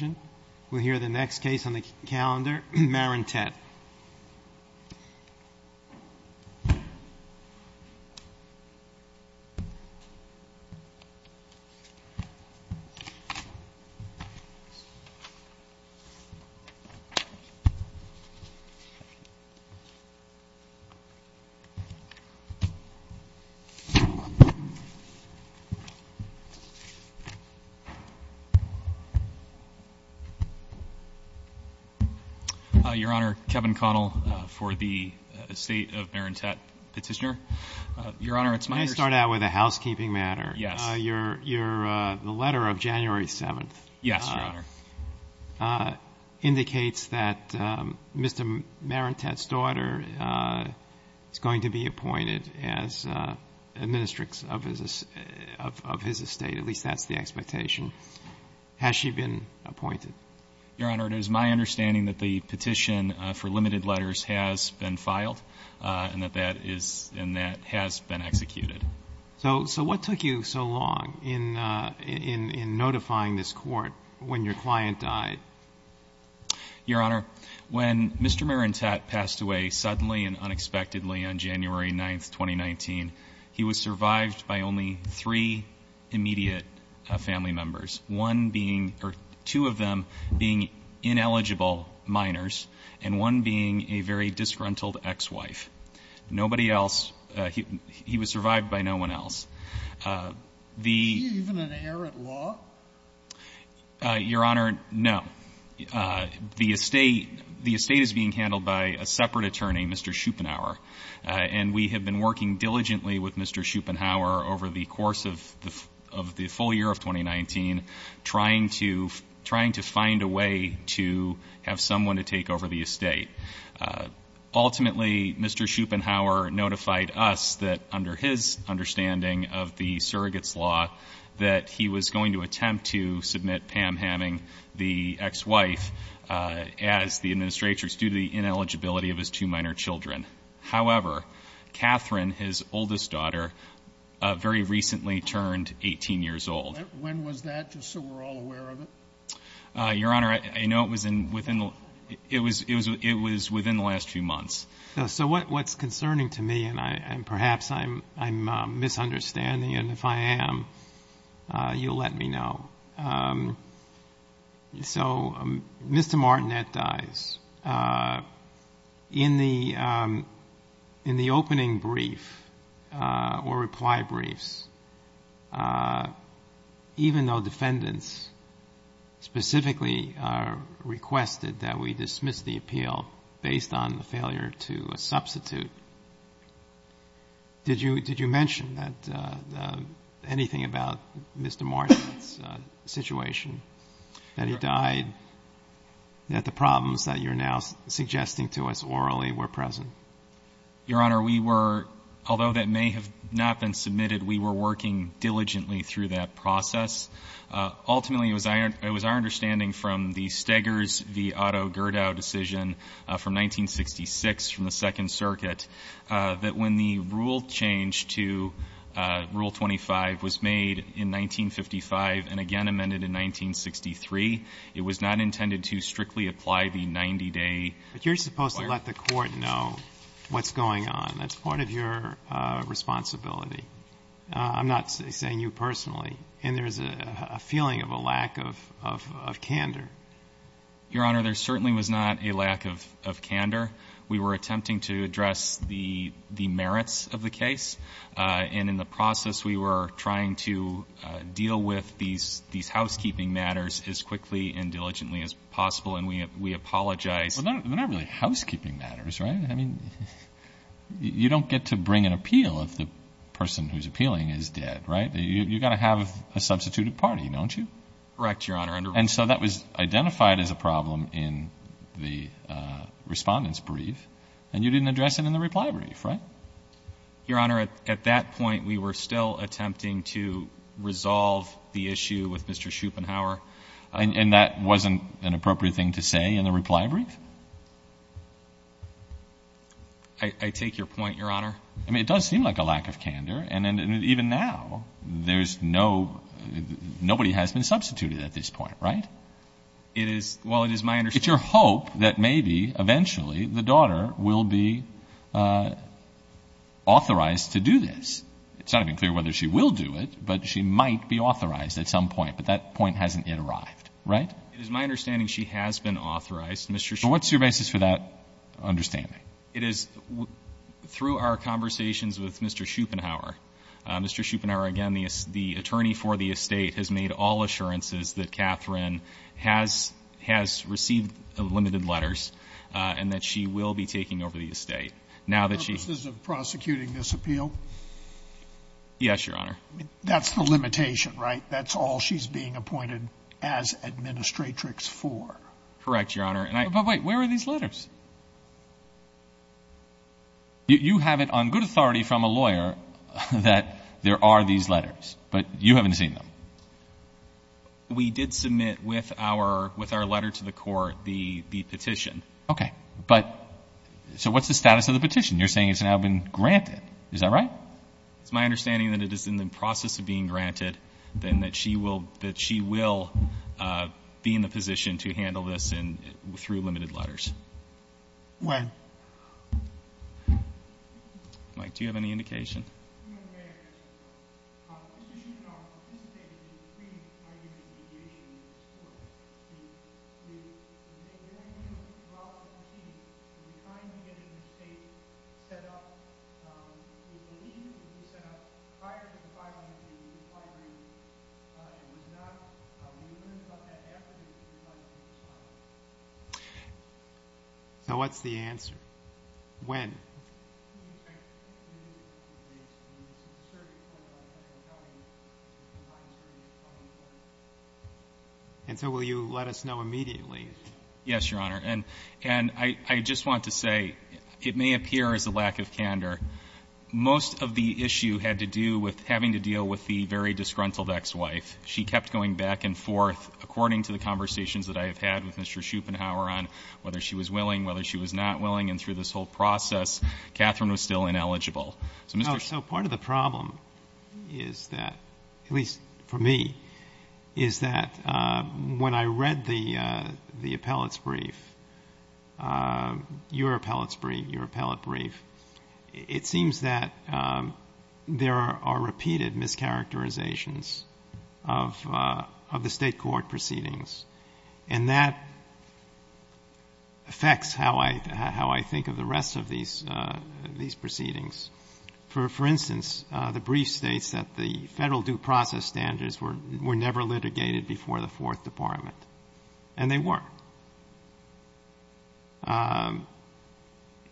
Marantette v. City of Canandai Your Honor, Kevin Connell for the estate of Marantette Petitioner. Your Honor, it's my understanding May I start out with a housekeeping matter? Yes. Your, your, the letter of January 7th Yes, Your Honor. indicates that Mr. Marantette's daughter is going to be appointed as a ministrix of his, of his estate. At least that's the expectation. Has she been appointed? Your Honor, it is my understanding that the petition for limited letters has been filed and that that is, and that has been executed. So, so what took you so long in, in, in notifying this court when your client died? Your Honor, when Mr. Marantette passed away suddenly and unexpectedly on January 9th, 2019 he was survived by only three immediate family members. One being, or two of them being ineligible minors and one being a very disgruntled ex-wife. Nobody else, he, he was survived by no one else. The Does he even inherit law? Your Honor, no. The estate, the estate is being handled by a separate attorney, Mr. Schupanauer and we have been working diligently with Mr. Schupanauer over the course of the, of the full year of 2019 trying to, trying to find a way to have someone to take over the estate. Ultimately, Mr. Schupanauer notified us that under his understanding of the surrogates law that he was going to attempt to submit Pam Hamming, the ex-wife, as the administrators due to the ineligibility of his two minor children. However, Catherine, his oldest daughter, very recently turned 18 years old. When was that, just so we're all aware of it? Your Honor, I know it was in, within, it was, it was, it was within the last few months. So what, what's concerning to me and I, and perhaps I'm, I'm misunderstanding and if I am, you'll let me know. So Mr. Martinet dies. In the, in the opening brief or reply briefs, even though defendants specifically requested that we dismiss the appeal based on the failure to substitute, did you, did you mention that anything about Mr. Martinet's situation, that he died, that the problems that you're now suggesting to us orally were present? Your Honor, we were, although that may have not been submitted, we were working diligently through that process. Ultimately, it was our, it was our understanding from the Steggers v. Otto Gerdau decision from 1966, from the Second Circuit, that when the rule change to Rule 25 was made in 1955 and again amended in 1963, it was not intended to strictly apply the 90-day requirement. But you're supposed to let the Court know what's going on. That's part of your responsibility. I'm not saying you personally. And there's a feeling of a lack of, of candor. Your Honor, there certainly was not a lack of, of candor. We were attempting to address the, the merits of the case. And in the process, we were trying to deal with these, these housekeeping matters as quickly and diligently as possible. And we, we apologize. Well, they're not really housekeeping matters, right? I mean, you don't get to bring an appeal if the person who's appealing is dead, right? You've got to have a substituted party, don't you? Correct, Your Honor. And so that was identified as a problem in the Respondent's Brief. And you didn't address it in the Reply Brief, right? Your Honor, at that point, we were still attempting to resolve the issue with Mr. Schupenhauer. And that wasn't an appropriate thing to say in the Reply Brief? I take your point, Your Honor. I mean, it does seem like a lack of candor. And even now, there's no, nobody has been substituted at this point, right? It is, well, it is my understanding. It's your hope that maybe, eventually, the daughter will be authorized to do this. It's not even clear whether she will do it, but she might be authorized at some point. But that point hasn't yet arrived, right? It is my understanding she has been authorized. But what's your basis for that understanding? It is through our conversations with Mr. Schupenhauer. Mr. Schupenhauer, again, the attorney for the estate has made all assurances that Catherine has received limited letters and that she will be taking over the estate. Purposes of prosecuting this appeal? Yes, Your Honor. That's the limitation, right? That's all she's being appointed as administratrix for. Correct, Your Honor. But wait, where are these letters? You have it on good authority from a lawyer that there are these letters, but you haven't seen them. We did submit with our letter to the court the petition. Okay. But, so what's the status of the petition? You're saying it's now been granted. Is that right? It's my understanding that it is in the process of being granted, and that she will be in the position to handle this through limited letters. When? Mike, do you have any indication? Mr. Schupenhauer participated in the pre-argument negation of this court. Did they do it well in the proceedings? Were you kind to get the estate set up? Do you believe it would be set up prior to the five-year agreement? It was not. Did you learn about that after the three-year agreement was signed? So what's the answer? When? And so will you let us know immediately? Yes, Your Honor. And I just want to say it may appear as a lack of candor. Most of the issue had to do with having to deal with the very disgruntled ex-wife. She kept going back and forth, according to the conversations that I have had with Mr. Schupenhauer on whether she was willing, whether she was not willing, and through this whole process Catherine was still ineligible. So, Mr. Schupenhauer. So part of the problem is that, at least for me, is that when I read the appellate's brief, your appellate's brief, your appellate brief, it seems that there are repeated mischaracterizations of the State court proceedings. And that affects how I think of the rest of these proceedings. For instance, the brief states that the Federal due process standards were never litigated before the Fourth Department. And they weren't.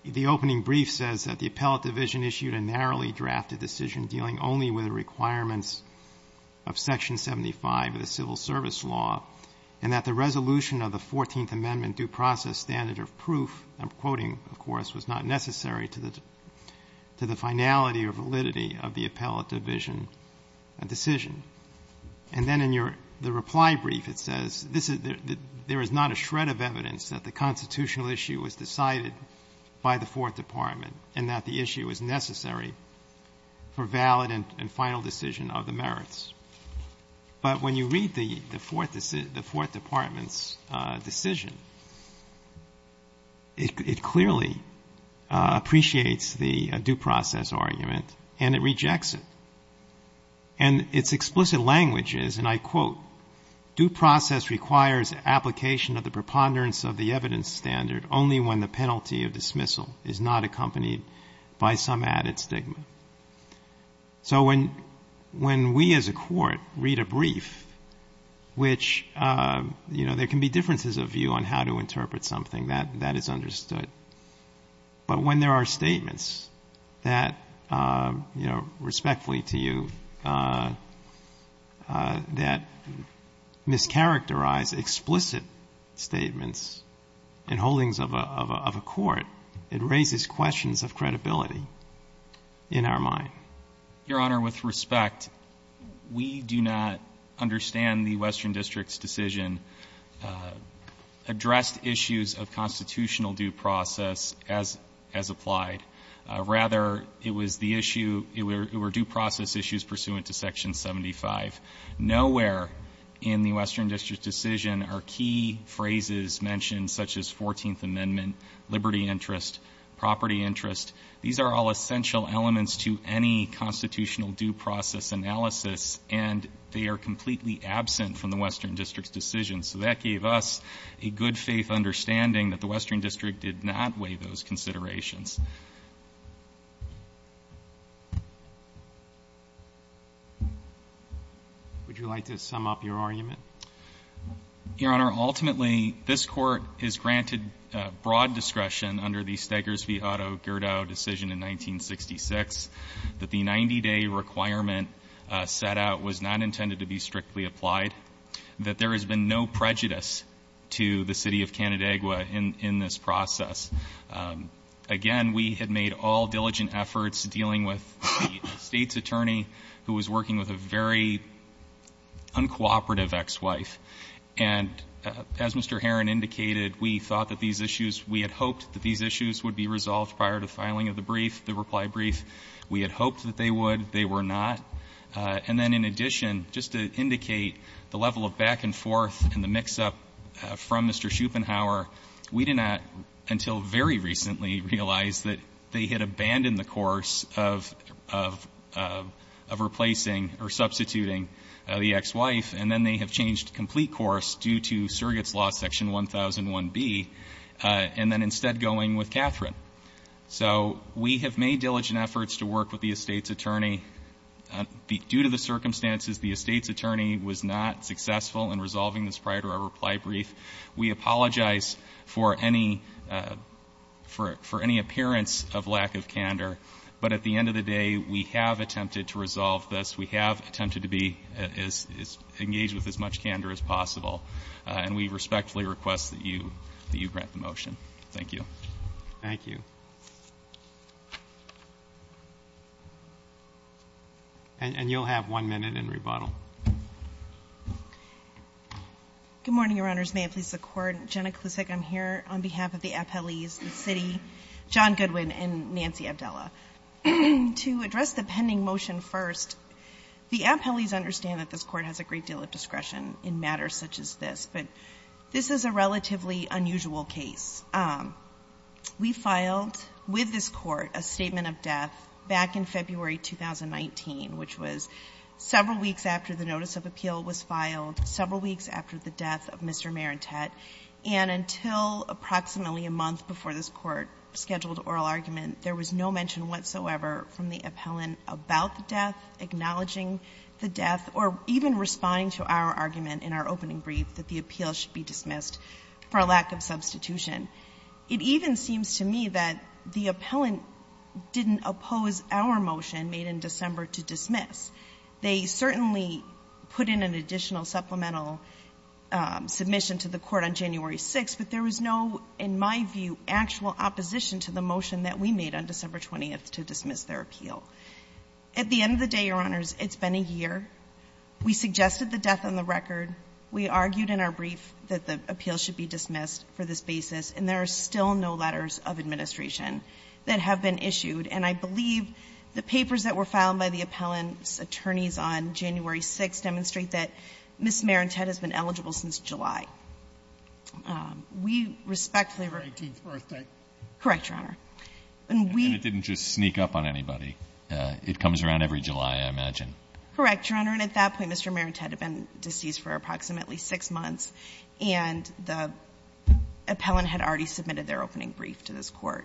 The opening brief says that the appellate division issued a narrowly drafted decision dealing only with the requirements of Section 75 of the Civil Service law, and that the resolution of the Fourteenth Amendment due process standard of proof, I'm quoting, of course, was not necessary to the finality or validity of the appellate division decision. And then in your reply brief it says, there is not a shred of evidence that the constitutional issue was decided by the Fourth Department, and that the issue is necessary for valid and final decision of the merits. But when you read the Fourth Department's decision, it clearly appreciates the due process argument, and it rejects it. And its explicit language is, and I quote, due process requires application of the preponderance of the evidence standard only when the penalty of dismissal is not accompanied by some added stigma. So when we as a court read a brief, which, you know, there can be differences of view on how to interpret something that is understood. But when there are statements that, you know, respectfully to you, that mischaracterize explicit statements and holdings of a court, it raises questions of credibility in our mind. Your Honor, with respect, we do not understand the Western District's decision addressed issues of constitutional due process as, as applied. Rather, it was the issue, it were due process issues pursuant to section 75. Nowhere in the Western District decision are key phrases mentioned such as 14th interest, property interest. These are all essential elements to any constitutional due process analysis, and they are completely absent from the Western District's decision. So that gave us a good faith understanding that the Western District did not weigh those considerations. Would you like to sum up your argument? Your Honor, ultimately, this court is granted broad discretion under the Steggers v. Otto-Gerdau decision in 1966 that the 90-day requirement set out was not intended to be strictly applied, that there has been no prejudice to the City of Canandaigua in this process. Again, we had made all diligent efforts dealing with the State's attorney who was working with a very uncooperative ex-wife. And as Mr. Herron indicated, we thought that these issues, we had hoped that these issues would be resolved prior to filing of the brief, the reply brief. We had hoped that they would. They were not. And then in addition, just to indicate the level of back and forth and the mix-up from Mr. Schupenhauer, we did not until very recently realize that they had abandoned the course of, of, of replacing or substituting the ex-wife, and then they have changed complete course due to surrogate's law section 1001B, and then instead going with Catherine. So we have made diligent efforts to work with the estate's attorney. Due to the circumstances, the estate's attorney was not successful in resolving this prior to our reply brief. We apologize for any, for, for any appearance of lack of candor. But at the end of the day, we have attempted to resolve this. We have attempted to be as engaged with as much candor as possible. And we respectfully request that you, that you grant the motion. Thank you. Thank you. And you'll have one minute in rebuttal. Good morning, Your Honors. May it please the Court. Jenna Klusek, I'm here on behalf of the appellees, the city, John Goodwin, and Nancy Abdella. To address the pending motion first, the appellees understand that this Court has a great deal of discretion in matters such as this. But this is a relatively unusual case. We filed with this Court a statement of death back in February 2019, which was several weeks after the notice of appeal was filed, several weeks after the death of Mr. Marentette. And until approximately a month before this Court scheduled oral argument, there was no mention whatsoever from the appellant about the death, acknowledging the death, or even responding to our argument in our opening brief that the appeal should be dismissed for a lack of substitution. It even seems to me that the appellant didn't oppose our motion made in December to dismiss. They certainly put in an additional supplemental submission to the Court on January 6th, but there was no, in my view, actual opposition to the motion that we made on December 20th to dismiss their appeal. At the end of the day, Your Honors, it's been a year. We suggested the death on the record. We argued in our brief that the appeal should be dismissed for this basis. And there are still no letters of administration that have been issued. And I believe the papers that were filed by the appellant's attorneys on January 6th demonstrate that Ms. Marentette has been eligible since July. We respectfully request... Her 19th birthday. Correct, Your Honor. And we... And it didn't just sneak up on anybody. It comes around every July, I imagine. Correct, Your Honor. And at that point, Mr. Marentette had been deceased for approximately six months, and the appellant had already submitted their opening brief to this Court.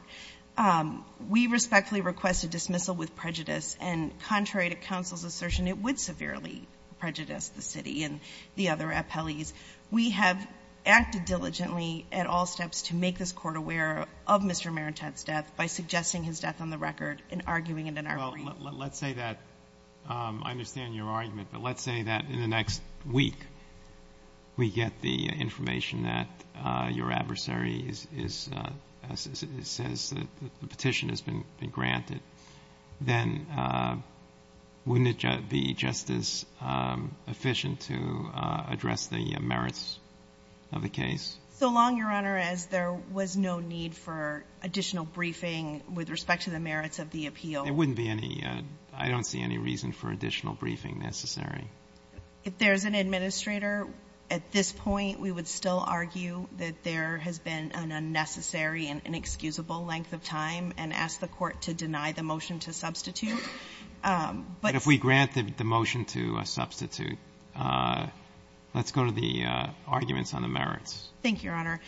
We respectfully request a dismissal with prejudice. And contrary to counsel's assertion, it would severely prejudice the city and the other appellees. We have acted diligently at all steps to make this Court aware of Mr. Marentette's death by suggesting his death on the record and arguing it in our brief. Well, let's say that I understand your argument, but let's say that in the next week we get the information that your adversary says the petition has been granted, then wouldn't it be just as efficient to address the merits of the case? So long, Your Honor, as there was no need for additional briefing with respect to the merits of the appeal. There wouldn't be any. I don't see any reason for additional briefing necessary. If there's an administrator, at this point, we would still argue that there has been an unnecessary and inexcusable length of time and ask the Court to deny the motion to substitute. But if we grant the motion to substitute, let's go to the arguments on the merits. Thank you, Your Honor.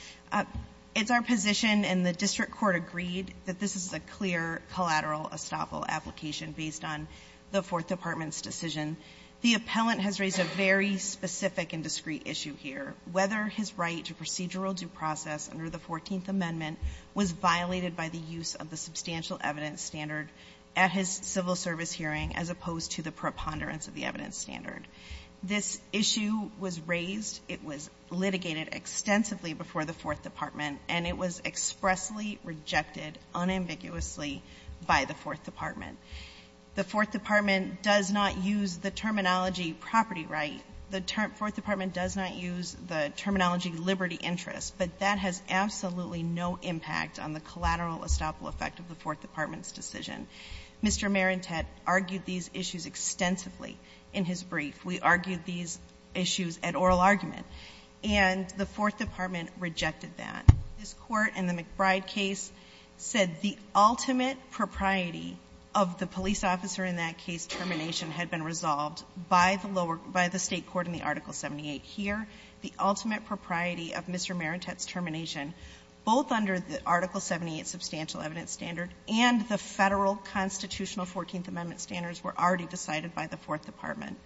It's our position and the district court agreed that this is a clear collateral estoppel application based on the Fourth Department's decision. The appellant has raised a very specific and discrete issue here. Whether his right to procedural due process under the Fourteenth Amendment was violated by the use of the substantial evidence standard at his civil service hearing as opposed to the preponderance of the evidence standard. This issue was raised. It was litigated extensively before the Fourth Department, and it was expressly rejected unambiguously by the Fourth Department. The Fourth Department does not use the terminology property right. The Fourth Department does not use the terminology liberty interest, but that has absolutely no impact on the collateral estoppel effect of the Fourth Department's decision. Mr. Marentette argued these issues extensively in his brief. We argued these issues at oral argument, and the Fourth Department rejected that. This Court in the McBride case said the ultimate propriety of the police officer in that case termination had been resolved by the lower, by the State court in the Article 78. Here, the ultimate propriety of Mr. Marentette's termination, both under the Article 78 substantial evidence standard and the Federal constitutional Fourteenth Amendment standards were already decided by the Fourth Department,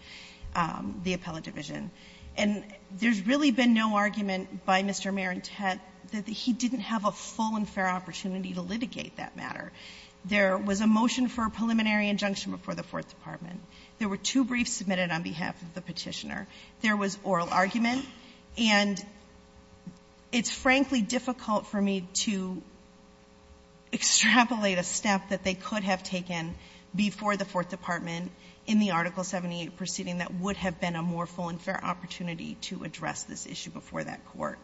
the appellate division. And there's really been no argument by Mr. Marentette that he didn't have a full and fair opportunity to litigate that matter. There was a motion for a preliminary injunction before the Fourth Department. There were two briefs submitted on behalf of the Petitioner. There was oral argument. And it's frankly difficult for me to extrapolate a step that they could have taken before the Fourth Department in the Article 78 proceeding that would have been a more full and fair opportunity to address this issue before that Court.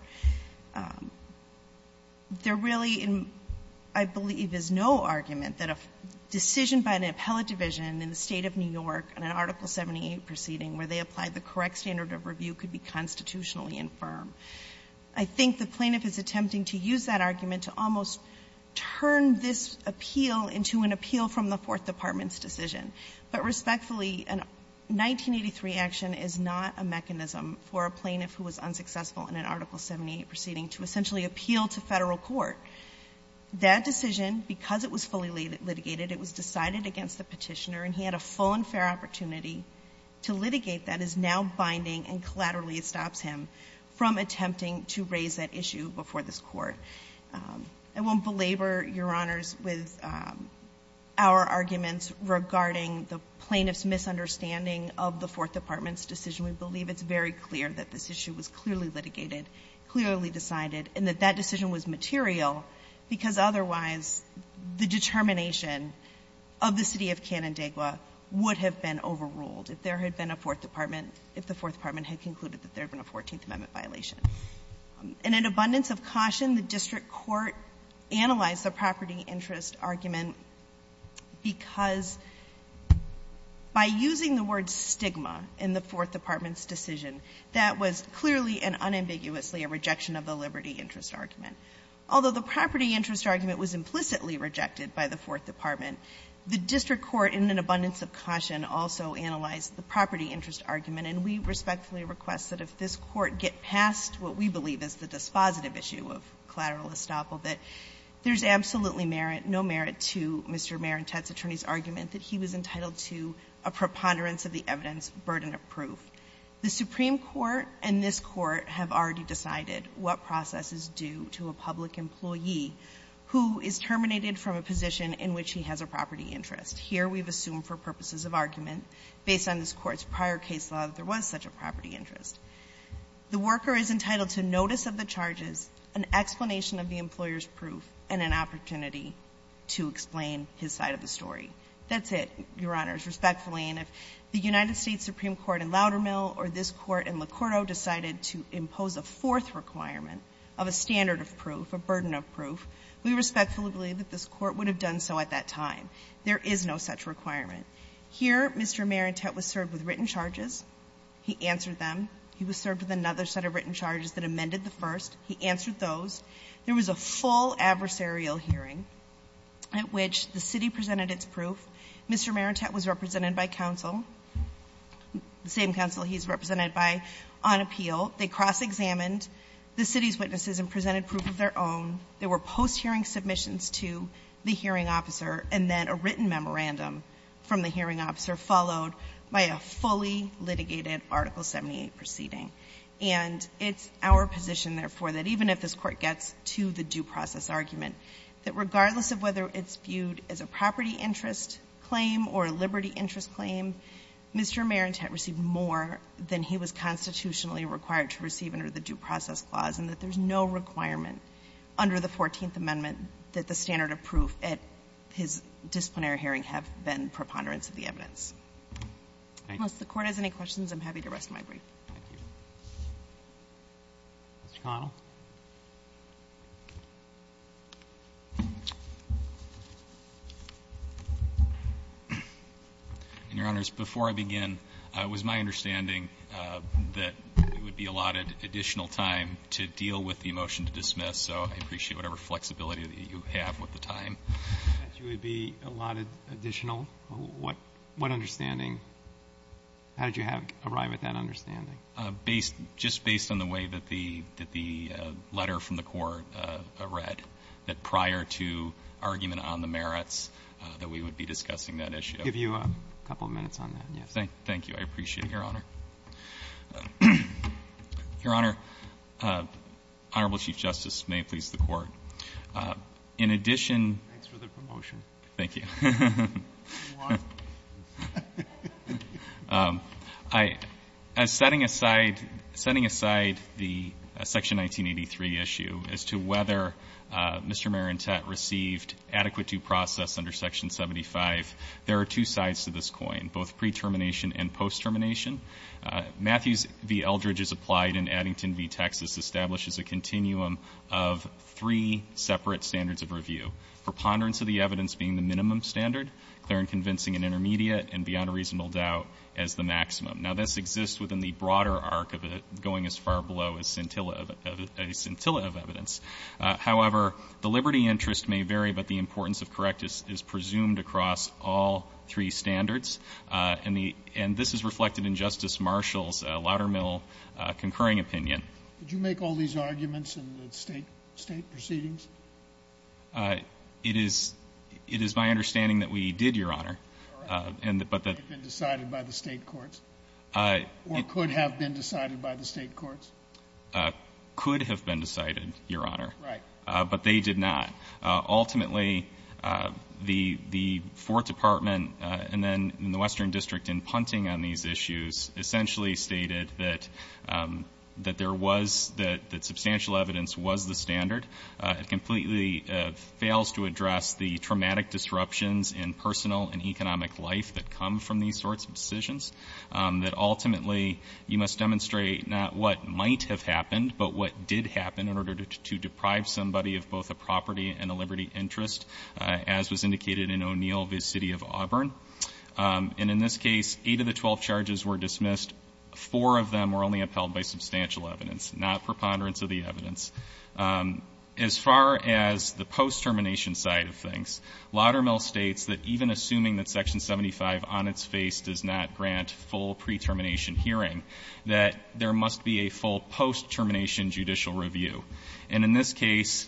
There really, I believe, is no argument that a decision by an appellate division in the State of New York in an Article 78 proceeding where they applied the correct standard of review could be constitutionally infirm. I think the plaintiff is attempting to use that argument to almost turn this appeal into an appeal from the Fourth Department's decision. But respectfully, a 1983 action is not a mechanism for a plaintiff who was unsuccessful in an Article 78 proceeding to essentially appeal to Federal court. That decision, because it was fully litigated, it was decided against the Petitioner, and he had a full and fair opportunity to litigate that, is now binding and collaterally stops him from attempting to raise that issue before this Court. I won't belabor, Your Honors, with our arguments regarding the plaintiff's misunderstanding of the Fourth Department's decision. We believe it's very clear that this issue was clearly litigated, clearly decided, and that that decision was material, because otherwise the determination of the City of Canandaigua would have been overruled if there had been a Fourth Department, if the Fourth Department had concluded that there had been a Fourteenth Amendment violation. In an abundance of caution, the district court analyzed the property interest argument, because by using the word stigma in the Fourth Department's decision, that was clearly and unambiguously a rejection of the liberty interest argument. Although the property interest argument was implicitly rejected by the Fourth Department, the district court, in an abundance of caution, also analyzed the property interest argument, and we respectfully request that if this Court get past what we believe is the dispositive issue of collateral estoppel, that there's absolutely merit, no merit to Mr. Marentette's attorney's argument that he was entitled to a preponderance of the evidence burden of proof. The Supreme Court and this Court have already decided what process is due to a public employee who is terminated from a position in which he has a property interest. Here we've assumed for purposes of argument, based on this Court's prior case law, that there was such a property interest. The worker is entitled to notice of the charges, an explanation of the employer's proof, and an opportunity to explain his side of the story. That's it, Your Honors, respectfully. And if the United States Supreme Court in Loudermill or this Court in Locordo decided to impose a fourth requirement of a standard of proof, a burden of proof, we respectfully believe that this Court would have done so at that time. There is no such requirement. Here, Mr. Marentette was served with written charges. He answered them. He was served with another set of written charges that amended the first. He answered those. There was a full adversarial hearing at which the city presented its proof. Mr. Marentette was represented by counsel, the same counsel he's represented by on appeal. They cross-examined the city's witnesses and presented proof of their own. There were post-hearing submissions to the hearing officer, and then a written proceeding. And it's our position, therefore, that even if this Court gets to the due process argument, that regardless of whether it's viewed as a property interest claim or a liberty interest claim, Mr. Marentette received more than he was constitutionally required to receive under the Due Process Clause, and that there's no requirement under the Fourteenth Amendment that the standard of proof at his disciplinary hearing have been preponderance of the evidence. Unless the Court has any questions, I'm happy to rest my brief. Roberts. Thank you. Mr. Connell. And, Your Honors, before I begin, it was my understanding that it would be allotted additional time to deal with the motion to dismiss. So I appreciate whatever flexibility that you have with the time. That you would be allotted additional? What understanding? How did you arrive at that understanding? Just based on the way that the letter from the Court read, that prior to argument on the merits, that we would be discussing that issue. I'll give you a couple of minutes on that. Thank you. I appreciate it, Your Honor. Your Honor, Honorable Chief Justice, and may it please the Court, in addition Thanks for the promotion. Thank you. As setting aside the Section 1983 issue as to whether Mr. Marentette received adequate due process under Section 75, there are two sides to this coin, both pre-termination and post-termination. Matthews v. Eldridge, as applied in Addington v. Texas, establishes a continuum of three separate standards of review. Preponderance of the evidence being the minimum standard, clear and convincing and intermediate, and beyond a reasonable doubt as the maximum. Now, this exists within the broader arc of it going as far below as scintilla of evidence. However, the liberty interest may vary, but the importance of correctness is presumed across all three standards. And this is reflected in Justice Marshall's Loudermill concurring opinion. Did you make all these arguments in the state proceedings? It is my understanding that we did, Your Honor. All right. Could they have been decided by the state courts? Or could have been decided by the state courts? Could have been decided, Your Honor. Right. But they did not. Ultimately, the Fourth Department and then the Western District in punting on these issues essentially stated that substantial evidence was the standard. It completely fails to address the traumatic disruptions in personal and economic life that come from these sorts of decisions, that ultimately you must demonstrate not what might have happened, but what did happen in order to deprive somebody of both a property and a liberty interest, as was indicated in O'Neill v. City of Auburn. And in this case, eight of the 12 charges were dismissed. Four of them were only upheld by substantial evidence, not preponderance of the evidence. As far as the post-termination side of things, Loudermill states that even assuming that Section 75 on its face does not grant full pre-termination hearing, that there must be a full post-termination judicial review. And in this case,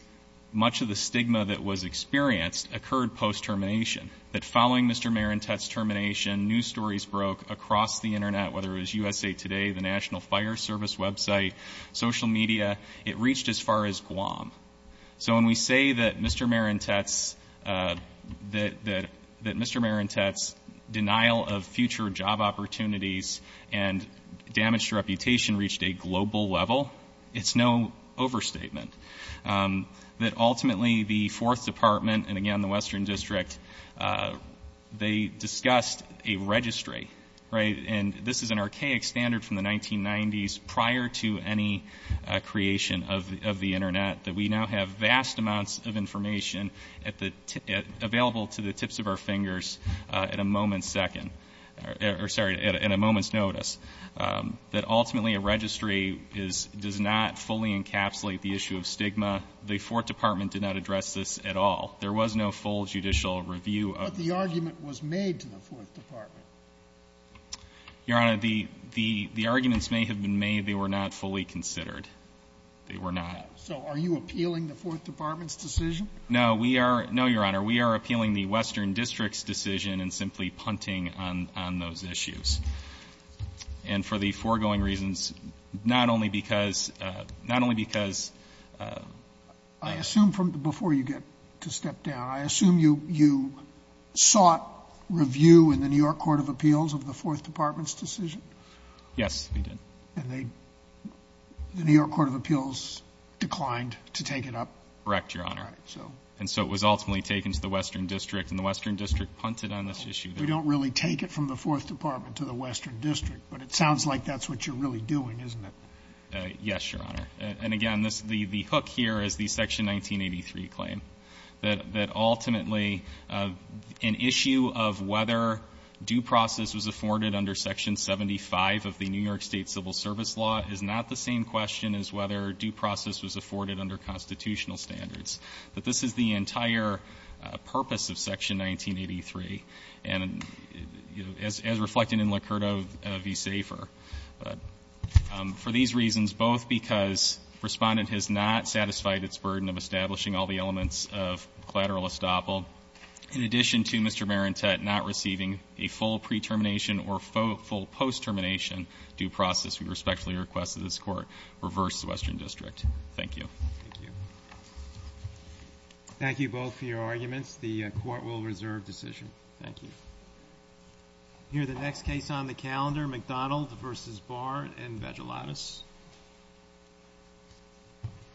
much of the stigma that was experienced occurred post-termination, that following Mr. Marentette's termination, news stories broke across the Internet, whether it was USA Today, the National Fire Service website, social media. It reached as far as Guam. So when we say that Mr. Marentette's denial of future job opportunities and damaged reputation reached a global level, it's no overstatement. That ultimately the Fourth Department and, again, the Western District, they discussed a registry, right? And this is an archaic standard from the 1990s prior to any creation of the Internet, that we now have vast amounts of information available to the tips of our fingers at a moment's second or, sorry, at a moment's notice. That ultimately a registry does not fully encapsulate the issue of stigma. The Fourth Department did not address this at all. There was no full judicial review of the ---- But the argument was made to the Fourth Department. Your Honor, the arguments may have been made. They were not fully considered. They were not. So are you appealing the Fourth Department's decision? No, we are no, Your Honor. We are appealing the Western District's decision and simply punting on those issues. And for the foregoing reasons, not only because ---- I assume from before you get to step down, I assume you sought review in the New York Court of Appeals of the Fourth Department's decision? Yes, we did. And the New York Court of Appeals declined to take it up? Correct, Your Honor. All right, so. And so it was ultimately taken to the Western District, and the Western District punted on this issue. We don't really take it from the Fourth Department to the Western District, but it sounds like that's what you're really doing, isn't it? Yes, Your Honor. And again, the hook here is the Section 1983 claim, that ultimately an issue of whether due process was afforded under Section 75 of the New York State Civil Service Law is not the same question as whether due process was afforded under constitutional standards. But this is the entire purpose of Section 1983. And as reflected in Licurta v. Safer, for these reasons, both because Respondent has not satisfied its burden of establishing all the elements of collateral estoppel, in addition to Mr. Marentette not receiving a full pre-termination or full post-termination due process, we respectfully request that this Court reverse the Western District. Thank you. Thank you. Thank you both for your arguments. The Court will reserve decision. Thank you. We'll hear the next case on the calendar, McDonald v. Barr in Vagelatos.